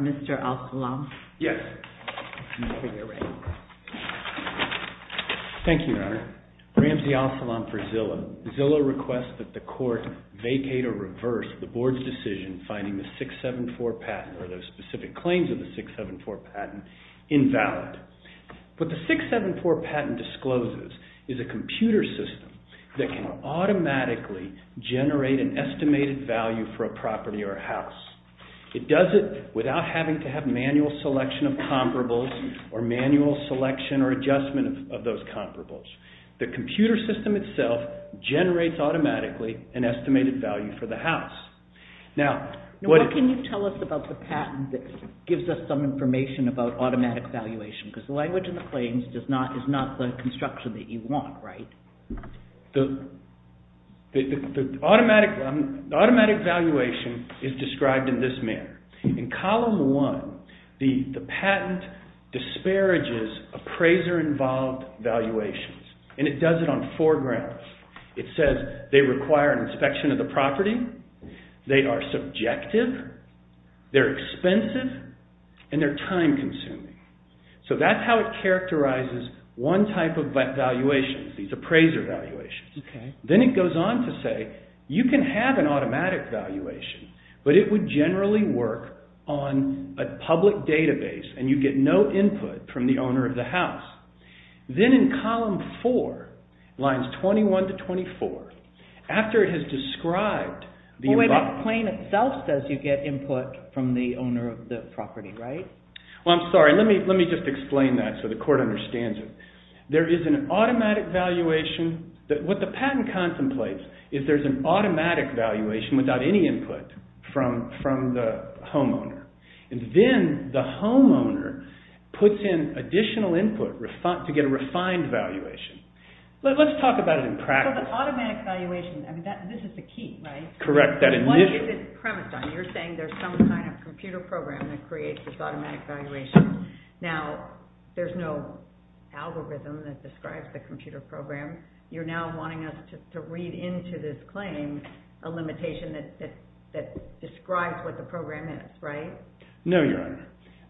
Mr. Al-Salam? Yes. Thank you, Your Honor. Ramsey Al-Salam for Zillow. Zillow requests that the Court vacate or reverse the Board's decision finding the 674 patent, or the specific claims of the 674 patent, invalid. What the 674 patent discloses is a computer system that can automatically generate an estimated value for a property or a house. It does it without having to have manual selection of comparables, or manual selection or adjustment of those comparables. The computer system itself generates automatically an estimated value for the house. Now, what can you tell us about the patent that gives us some information about automatic valuation? Because the language in the claims is not the construction that you want, right? The automatic valuation is described in this manner. In Column 1, the patent disparages appraiser-involved valuations, and it does it on four grounds. It says they require an inspection of the property, they are subjective, they're expensive, and they're time-consuming. So that's how it characterizes one type of valuation, these appraiser valuations. Then it goes on to say you can have an automatic valuation, but it would generally work on a public database, and you get no input from the owner of the house. Then in Column 4, lines 21 to 24, after it has described the— Wait, that claim itself says you get input from the owner of the property, right? Well, I'm sorry. Let me just explain that so the court understands it. There is an automatic valuation. What the patent contemplates is there's an automatic valuation without any input from the homeowner. And then the homeowner puts in additional input to get a refined valuation. Let's talk about it in practice. So the automatic valuation, I mean, this is the key, right? Correct, that initial— Now, there's no algorithm that describes the computer program. You're now wanting us to read into this claim a limitation that describes what the program is, right? No, Your Honor.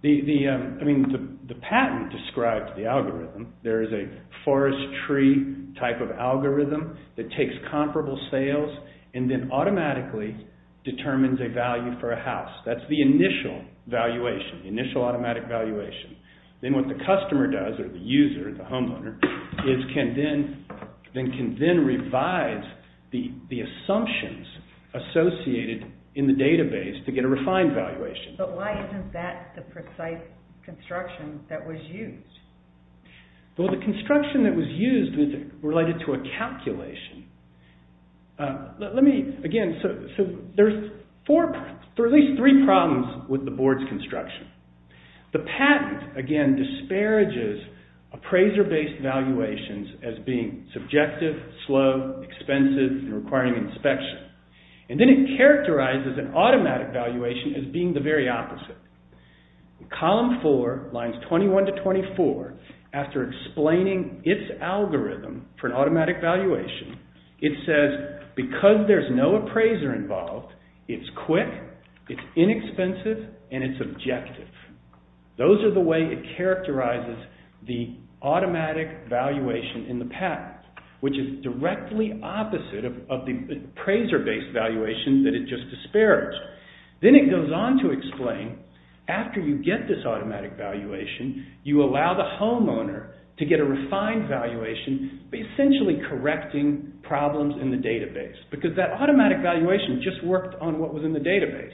I mean, the patent describes the algorithm. There is a forest tree type of algorithm that takes comparable sales and then automatically determines a value for a house. That's the initial valuation, initial automatic valuation. Then what the customer does, or the user, the homeowner, is can then revise the assumptions associated in the database to get a refined valuation. But why isn't that the precise construction that was used? Well, the construction that was used was related to a calculation. Let me, again, so there's at least three problems with the board's construction. The patent, again, disparages appraiser-based valuations as being subjective, slow, expensive, and requiring inspection. And then it characterizes an automatic valuation as being the very opposite. Column four, lines 21 to 24, after explaining its algorithm for an automatic valuation, it says because there's no appraiser involved, it's quick, it's inexpensive, and it's subjective. Those are the way it characterizes the automatic valuation in the patent, which is directly opposite of the appraiser-based valuation that it just disparaged. Then it goes on to explain, after you get this automatic valuation, you allow the homeowner to get a refined valuation, essentially correcting problems in the database. Because that automatic valuation just worked on what was in the database.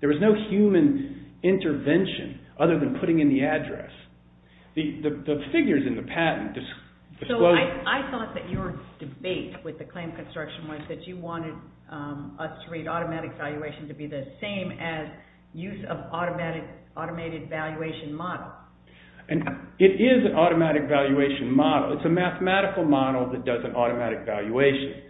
There was no human intervention other than putting in the address. The figures in the patent disclose... ...that you wanted us to read automatic valuation to be the same as use of automated valuation model. It is an automatic valuation model. It's a mathematical model that does an automatic valuation.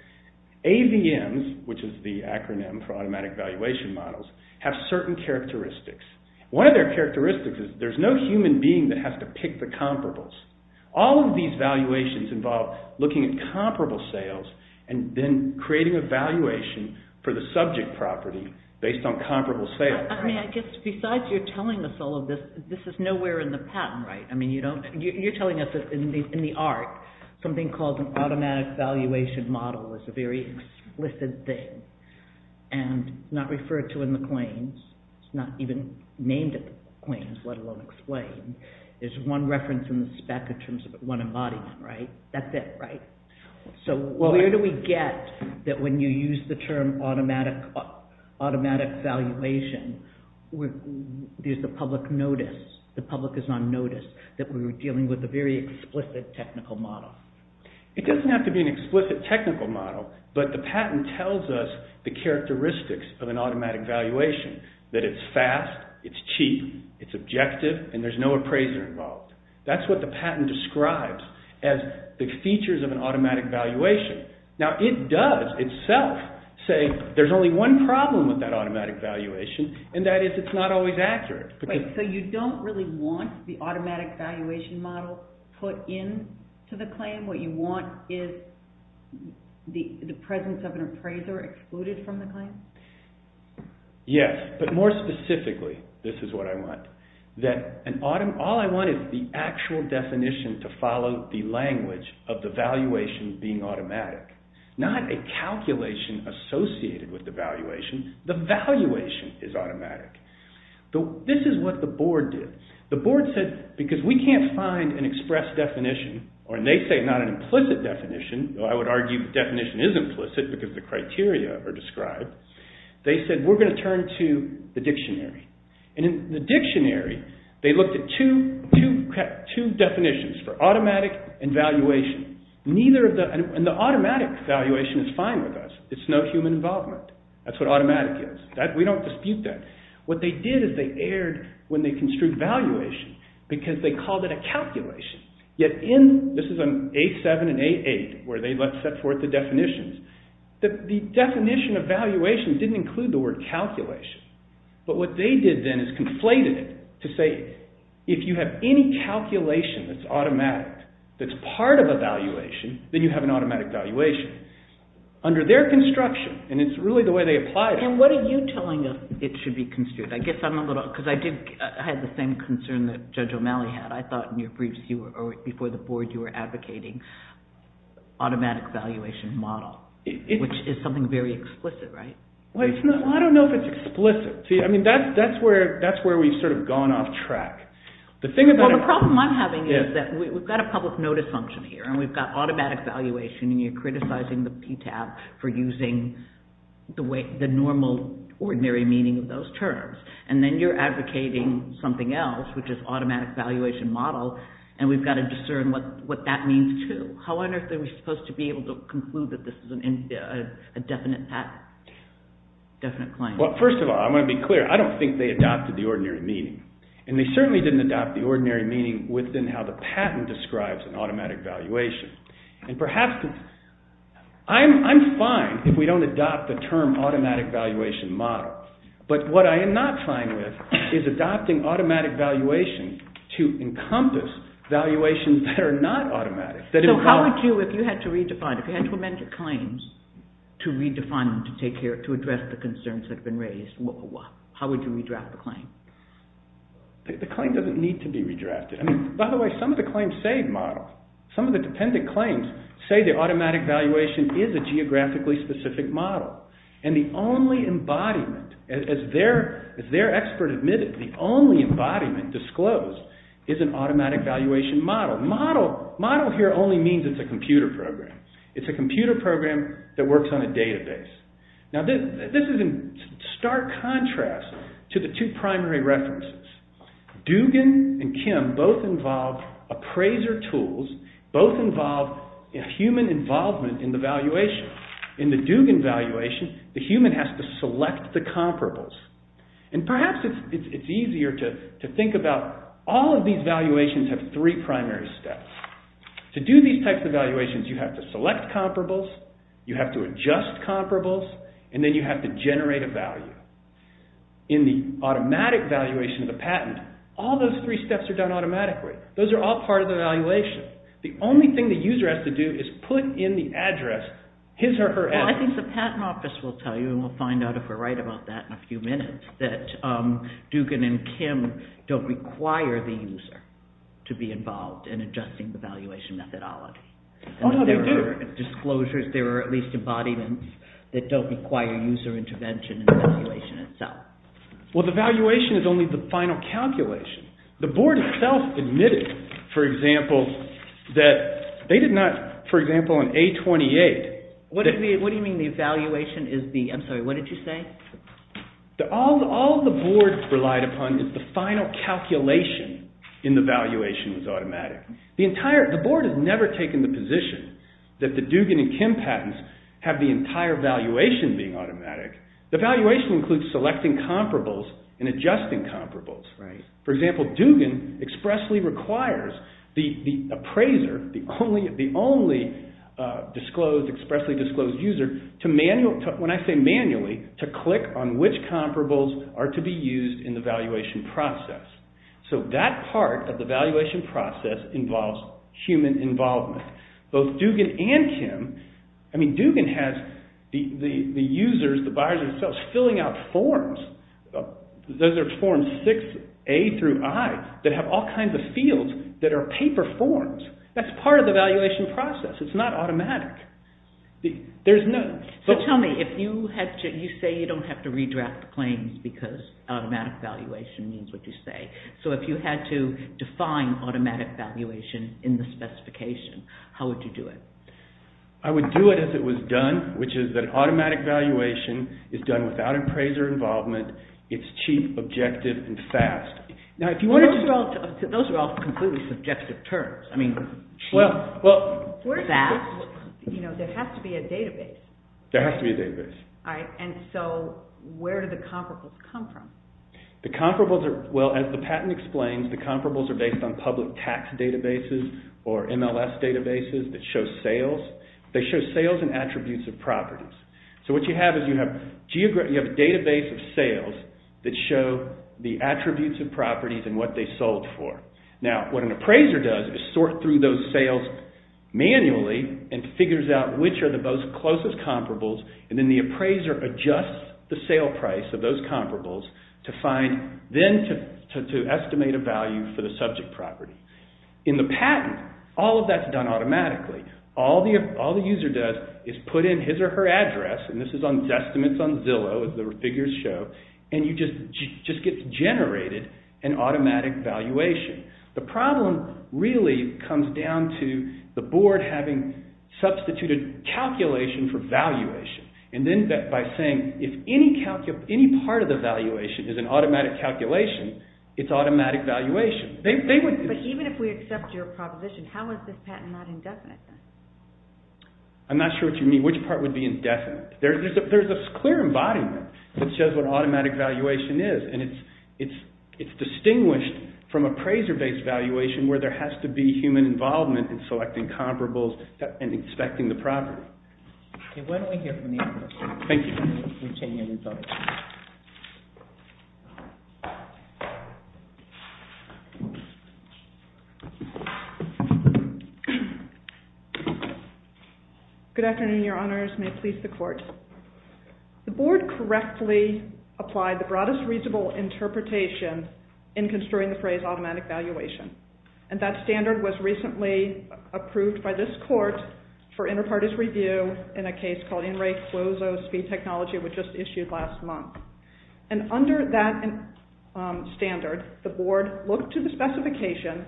AVMs, which is the acronym for automatic valuation models, have certain characteristics. One of their characteristics is there's no human being that has to pick the comparables. All of these valuations involve looking at comparable sales and then creating a valuation for the subject property based on comparable sales. Besides you're telling us all of this, this is nowhere in the patent, right? You're telling us that in the art, something called an automatic valuation model is a very explicit thing and not referred to in the claims. It's not even named in the claims, let alone explained. There's one reference in the spec in terms of one embodiment, right? That's it, right? So where do we get that when you use the term automatic valuation, there's the public notice? The public is on notice that we were dealing with a very explicit technical model. It doesn't have to be an explicit technical model, but the patent tells us the characteristics of an automatic valuation. That it's fast, it's cheap, it's objective, and there's no appraiser involved. That's what the patent describes as the features of an automatic valuation. Now it does itself say there's only one problem with that automatic valuation and that is it's not always accurate. Wait, so you don't really want the automatic valuation model put into the claim? What you want is the presence of an appraiser excluded from the claim? Yes, but more specifically, this is what I want. That all I want is the actual definition to follow the language of the valuation being automatic. Not a calculation associated with the valuation. The valuation is automatic. This is what the board did. The board said because we can't find an express definition, or they say not an implicit definition, though I would argue the definition is implicit because the criteria are described, they said we're going to turn to the dictionary. In the dictionary, they looked at two definitions for automatic and valuation. The automatic valuation is fine with us. It's no human involvement. That's what automatic is. We don't dispute that. What they did is they aired when they construed valuation because they called it a calculation. This is on A7 and A8 where they set forth the definitions. The definition of valuation didn't include the word calculation, but what they did then is conflated it to say if you have any calculation that's automatic, that's part of a valuation, then you have an automatic valuation. Under their construction, and it's really the way they applied it. What are you telling us it should be construed? I guess I'm a little, because I had the same concern that Judge O'Malley had. I thought before the board you were advocating automatic valuation model, which is something very explicit, right? I don't know if it's explicit. That's where we've sort of gone off track. The problem I'm having is that we've got a public notice function here, and we've got automatic valuation, and you're criticizing the PTAB for using the normal ordinary meaning of those terms. Then you're advocating something else, which is automatic valuation model, and we've got to discern what that means too. How on earth are we supposed to be able to conclude that this is a definite claim? First of all, I want to be clear. I don't think they adopted the ordinary meaning, and they certainly didn't adopt the ordinary meaning within how the patent describes an automatic valuation. Perhaps, I'm fine if we don't adopt the term automatic valuation model, but what I am not fine with is adopting automatic valuation to encompass valuations that are not automatic. So how would you, if you had to redefine, if you had to amend your claims to redefine them to address the concerns that have been raised, how would you redraft the claim? The claim doesn't need to be redrafted. By the way, some of the claims say model. Some of the dependent claims say the automatic valuation is a geographically specific model, and the only embodiment, as their expert admitted, the only embodiment disclosed is an automatic valuation model. Model here only means it's a computer program. It's a computer program that works on a database. Now this is in stark contrast to the two primary references. Dugan and Kim both involve appraiser tools, both involve human involvement in the valuation. So in the Dugan valuation, the human has to select the comparables, and perhaps it's easier to think about all of these valuations have three primary steps. To do these types of valuations, you have to select comparables, you have to adjust comparables, and then you have to generate a value. In the automatic valuation of the patent, all those three steps are done automatically. Those are all part of the valuation. The only thing the user has to do is put in the address, his or her address. Well, I think the patent office will tell you, and we'll find out if we're right about that in a few minutes, that Dugan and Kim don't require the user to be involved in adjusting the valuation methodology. Oh, no, they do. Disclosures, there are at least embodiments that don't require user intervention in the valuation itself. Well, the valuation is only the final calculation. The board itself admitted, for example, that they did not, for example, in A-28. What do you mean the valuation is the, I'm sorry, what did you say? All the board relied upon is the final calculation in the valuation was automatic. The board has never taken the position that the Dugan and Kim patents have the entire valuation being automatic. The valuation includes selecting comparables and adjusting comparables. For example, Dugan expressly requires the appraiser, the only disclosed, expressly disclosed user, when I say manually, to click on which comparables are to be used in the valuation process. So that part of the valuation process involves human involvement. Both Dugan and Kim, I mean Dugan has the users, the buyers themselves, filling out forms. Those are forms 6A through I that have all kinds of fields that are paper forms. That's part of the valuation process. It's not automatic. So tell me, you say you don't have to redraft the claims because automatic valuation means what you say. So if you had to define automatic valuation in the specification, how would you do it? I would do it as it was done, which is that automatic valuation is done without appraiser involvement. It's cheap, objective, and fast. Those are all completely subjective terms. I mean cheap, fast. There has to be a database. There has to be a database. All right, and so where do the comparables come from? The comparables are, well, as the patent explains, the comparables are based on public tax databases or MLS databases that show sales. They show sales and attributes of properties. So what you have is you have a database of sales that show the attributes of properties and what they sold for. Now what an appraiser does is sort through those sales manually and figures out which are the most closest comparables, and then the appraiser adjusts the sale price of those comparables to find, then to estimate a value for the subject property. In the patent, all of that's done automatically. All the user does is put in his or her address, and this is on estimates on Zillow as the figures show, and you just get generated an automatic valuation. The problem really comes down to the board having substituted calculation for valuation, and then by saying if any part of the valuation is an automatic calculation, it's automatic valuation. But even if we accept your proposition, how is this patent not indefinite then? I'm not sure what you mean, which part would be indefinite. There's a clear embodiment that shows what automatic valuation is, and it's distinguished from appraiser-based valuation where there has to be human involvement in selecting comparables and inspecting the property. Okay, why don't we hear from the other person. Thank you. We'll change our results. Good afternoon, your honors. May it please the court. The board correctly applied the broadest reasonable interpretation in construing the phrase automatic valuation, and that standard was recently approved by this court for inter-parties review in a case called In Re Closo Speed Technology, which was issued last month. And under that standard, the board looked to the specification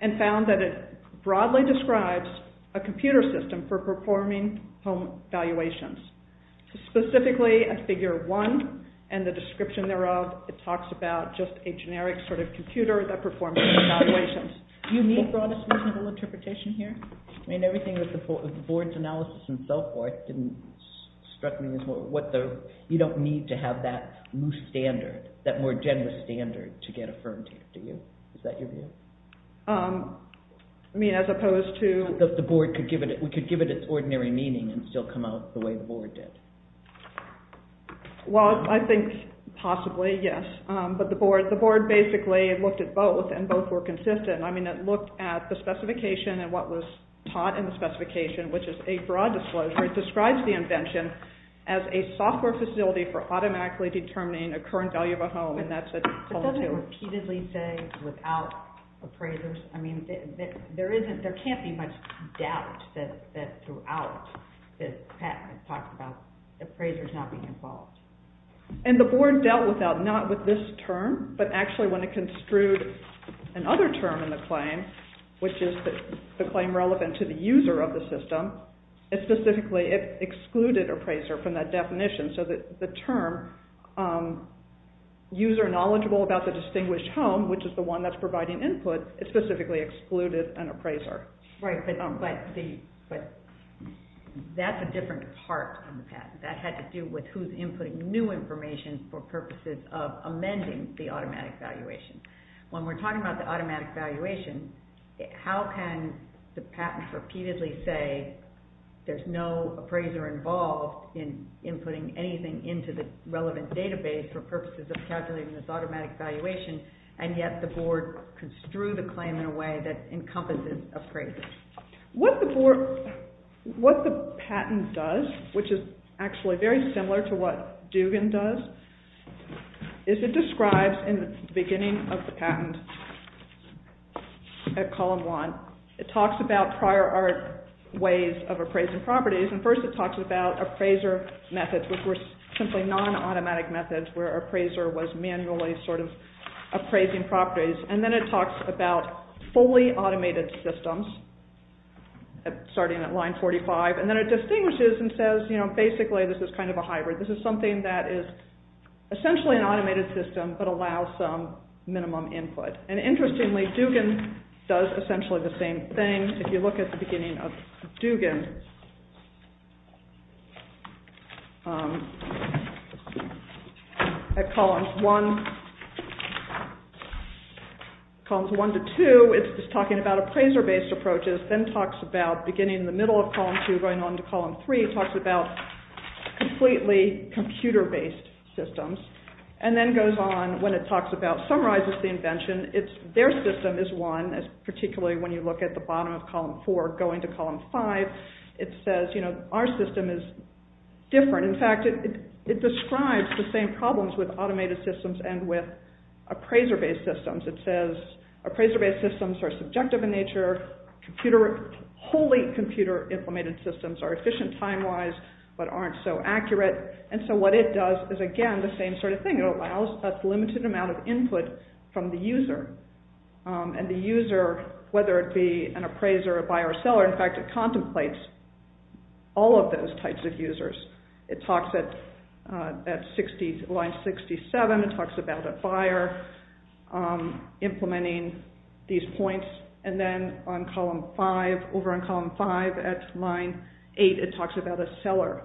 and found that it broadly describes a computer system for performing home valuations. Specifically at figure one and the description thereof, it talks about just a generic sort of computer that performs home valuations. Do you mean broadest reasonable interpretation here? I mean, everything with the board's analysis and so forth struck me as, you don't need to have that loose standard, that more generous standard, to get affirmed, do you? Is that your view? I mean, as opposed to... That the board could give it its ordinary meaning and still come out the way the board did. Well, I think possibly, yes. But the board basically looked at both, and both were consistent. I mean, it looked at the specification and what was taught in the specification, which is a broad disclosure. It describes the invention as a software facility for automatically determining a current value of a home, and that's it. But doesn't it repeatedly say, without appraisers? I mean, there can't be much doubt that throughout, that Pat has talked about appraisers not being involved. And the board dealt with that, not with this term, but actually when it construed another term in the claim, which is the claim relevant to the user of the system, it specifically excluded appraiser from that definition. So the term, user knowledgeable about the distinguished home, which is the one that's providing input, it specifically excluded an appraiser. Right, but that's a different part from the past. That had to do with who's inputting new information for purposes of amending the automatic valuation. When we're talking about the automatic valuation, how can the patent repeatedly say there's no appraiser involved in inputting anything into the relevant database for purposes of calculating this automatic valuation, and yet the board construed a claim in a way that encompasses appraisers? What the patent does, which is actually very similar to what Dugan does, is it describes in the beginning of the patent at column one, it talks about prior art ways of appraising properties, and first it talks about appraiser methods, which were simply non-automatic methods where appraiser was manually sort of appraising properties. And then it talks about fully automated systems, starting at line 45, and then it distinguishes and says, you know, basically this is kind of a hybrid. This is something that is essentially an automated system, but allows some minimum input. And interestingly, Dugan does essentially the same thing. If you look at the beginning of Dugan at columns one to two, it's just talking about appraiser-based approaches, then talks about beginning in the middle of column two, going on to column three, talks about completely computer-based systems, and then goes on, when it summarizes the invention, their system is one, particularly when you look at the bottom of column four, going to column five, it says, you know, our system is different. In fact, it describes the same problems with automated systems and with appraiser-based systems. It says appraiser-based systems are subjective in nature, wholly computer-implemented systems are efficient time-wise, but aren't so accurate. And so what it does is, again, the same sort of thing. It allows a limited amount of input from the user, and the user, whether it be an appraiser, a buyer, or a seller, in fact, it contemplates all of those types of users. It talks at line 67, it talks about a buyer implementing these points, and then on column five, over on column five at line eight, it talks about a seller.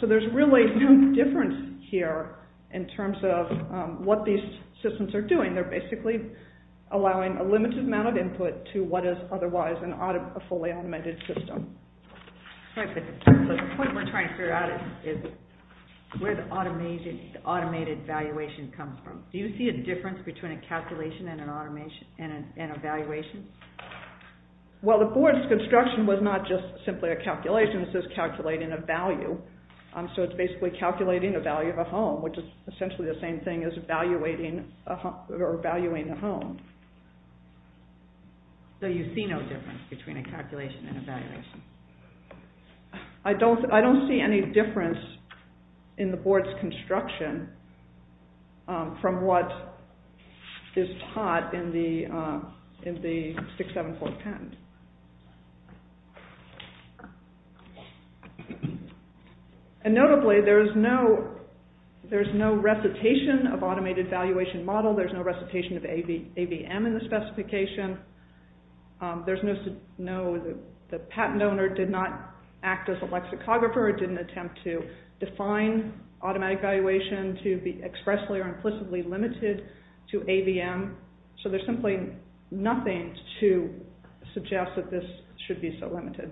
So there's really no difference here in terms of what these systems are doing. They're basically allowing a limited amount of input to what is otherwise a fully automated system. The point we're trying to figure out is where the automated evaluation comes from. Do you see a difference between a calculation and an evaluation? Well, the board's construction was not just simply a calculation. It was just calculating a value. So it's basically calculating the value of a home, which is essentially the same thing as evaluating a home. So you see no difference between a calculation and an evaluation? I don't see any difference in the board's construction from what is taught in the 674 patent. And notably, there's no recitation of automated evaluation model. There's no recitation of AVM in the specification. The patent owner did not act as a lexicographer or did not attempt to define automatic evaluation to be expressly or implicitly limited to AVM. So there's simply nothing to suggest that this should be so limited.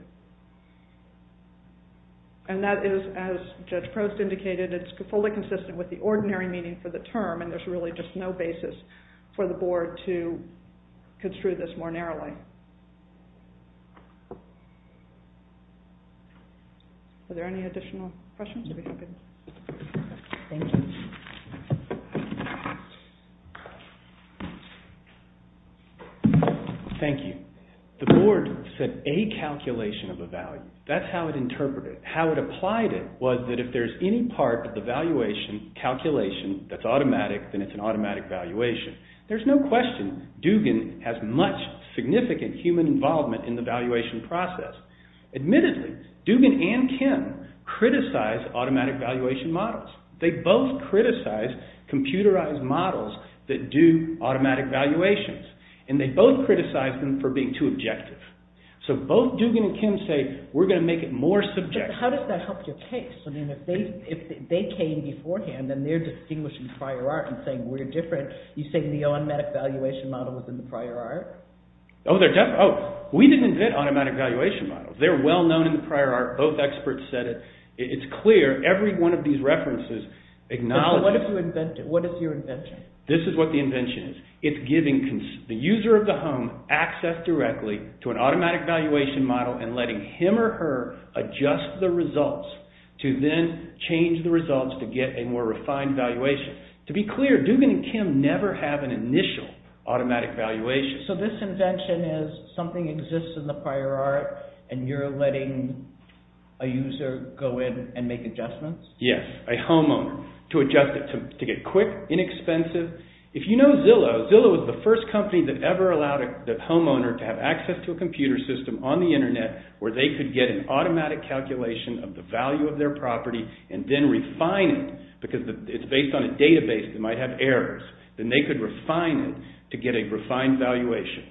And that is, as Judge Prost indicated, it's fully consistent with the ordinary meaning for the term and there's really just no basis for the board to construe this more narrowly. Are there any additional questions? Thank you. The board set a calculation of a value. That's how it interpreted it. How it applied it was that if there's any part of the valuation calculation that's automatic, then it's an automatic valuation. There's no question Dugan has much significant human involvement in the valuation process. Admittedly, Dugan and Kim criticized automatic valuation models. They both criticized computerized models that do automatic valuations and they both criticized them for being too objective. So both Dugan and Kim say, we're going to make it more subjective. How does that help your case? I mean, if they came beforehand, then they're distinguishing prior art and saying we're different. You're saying the automatic valuation model was in the prior art? We didn't invent automatic valuation models. They're well known in the prior art. Both experts said it. It's clear. Every one of these references acknowledges it. What is your invention? This is what the invention is. It's giving the user of the home access directly to an automatic valuation model and letting him or her adjust the results to then change the results to get a more refined valuation. To be clear, Dugan and Kim never have an initial automatic valuation. So this invention is something exists in the prior art and you're letting a user go in and make adjustments? Yes, a homeowner, to adjust it, to get quick, inexpensive. If you know Zillow, Zillow is the first company that ever allowed a homeowner to have access to a computer system on the internet where they could get an automatic calculation of the value of their property and then refine it because it's based on a database that might have errors. Then they could refine it to get a refined valuation.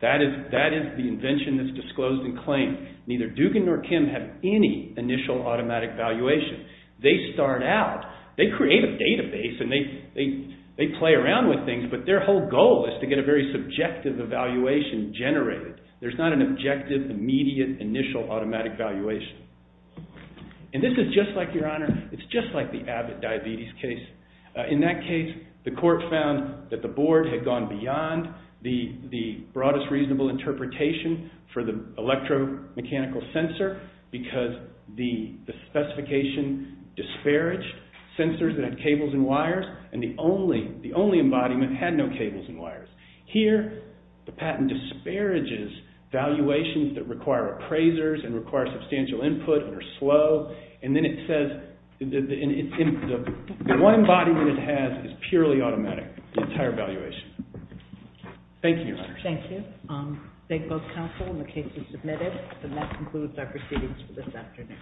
That is the invention that's disclosed in claim. Neither Dugan nor Kim have any initial automatic valuation. They start out. They create a database and they play around with things, but their whole goal is to get a very subjective evaluation generated. There's not an objective, immediate, initial automatic valuation. And this is just like, Your Honor, it's just like the Abbott diabetes case. In that case, the court found that the board had gone beyond the broadest reasonable interpretation for the electromechanical sensor because the specification disparaged sensors that had cables and wires and the only embodiment had no cables and wires. Here, the patent disparages valuations that require appraisers and require substantial input and are slow. And then it says the one embodiment it has is purely automatic, the entire valuation. Thank you, Your Honor. Thank you. Thank both counsel and the cases submitted. And that concludes our proceedings for this afternoon. All rise.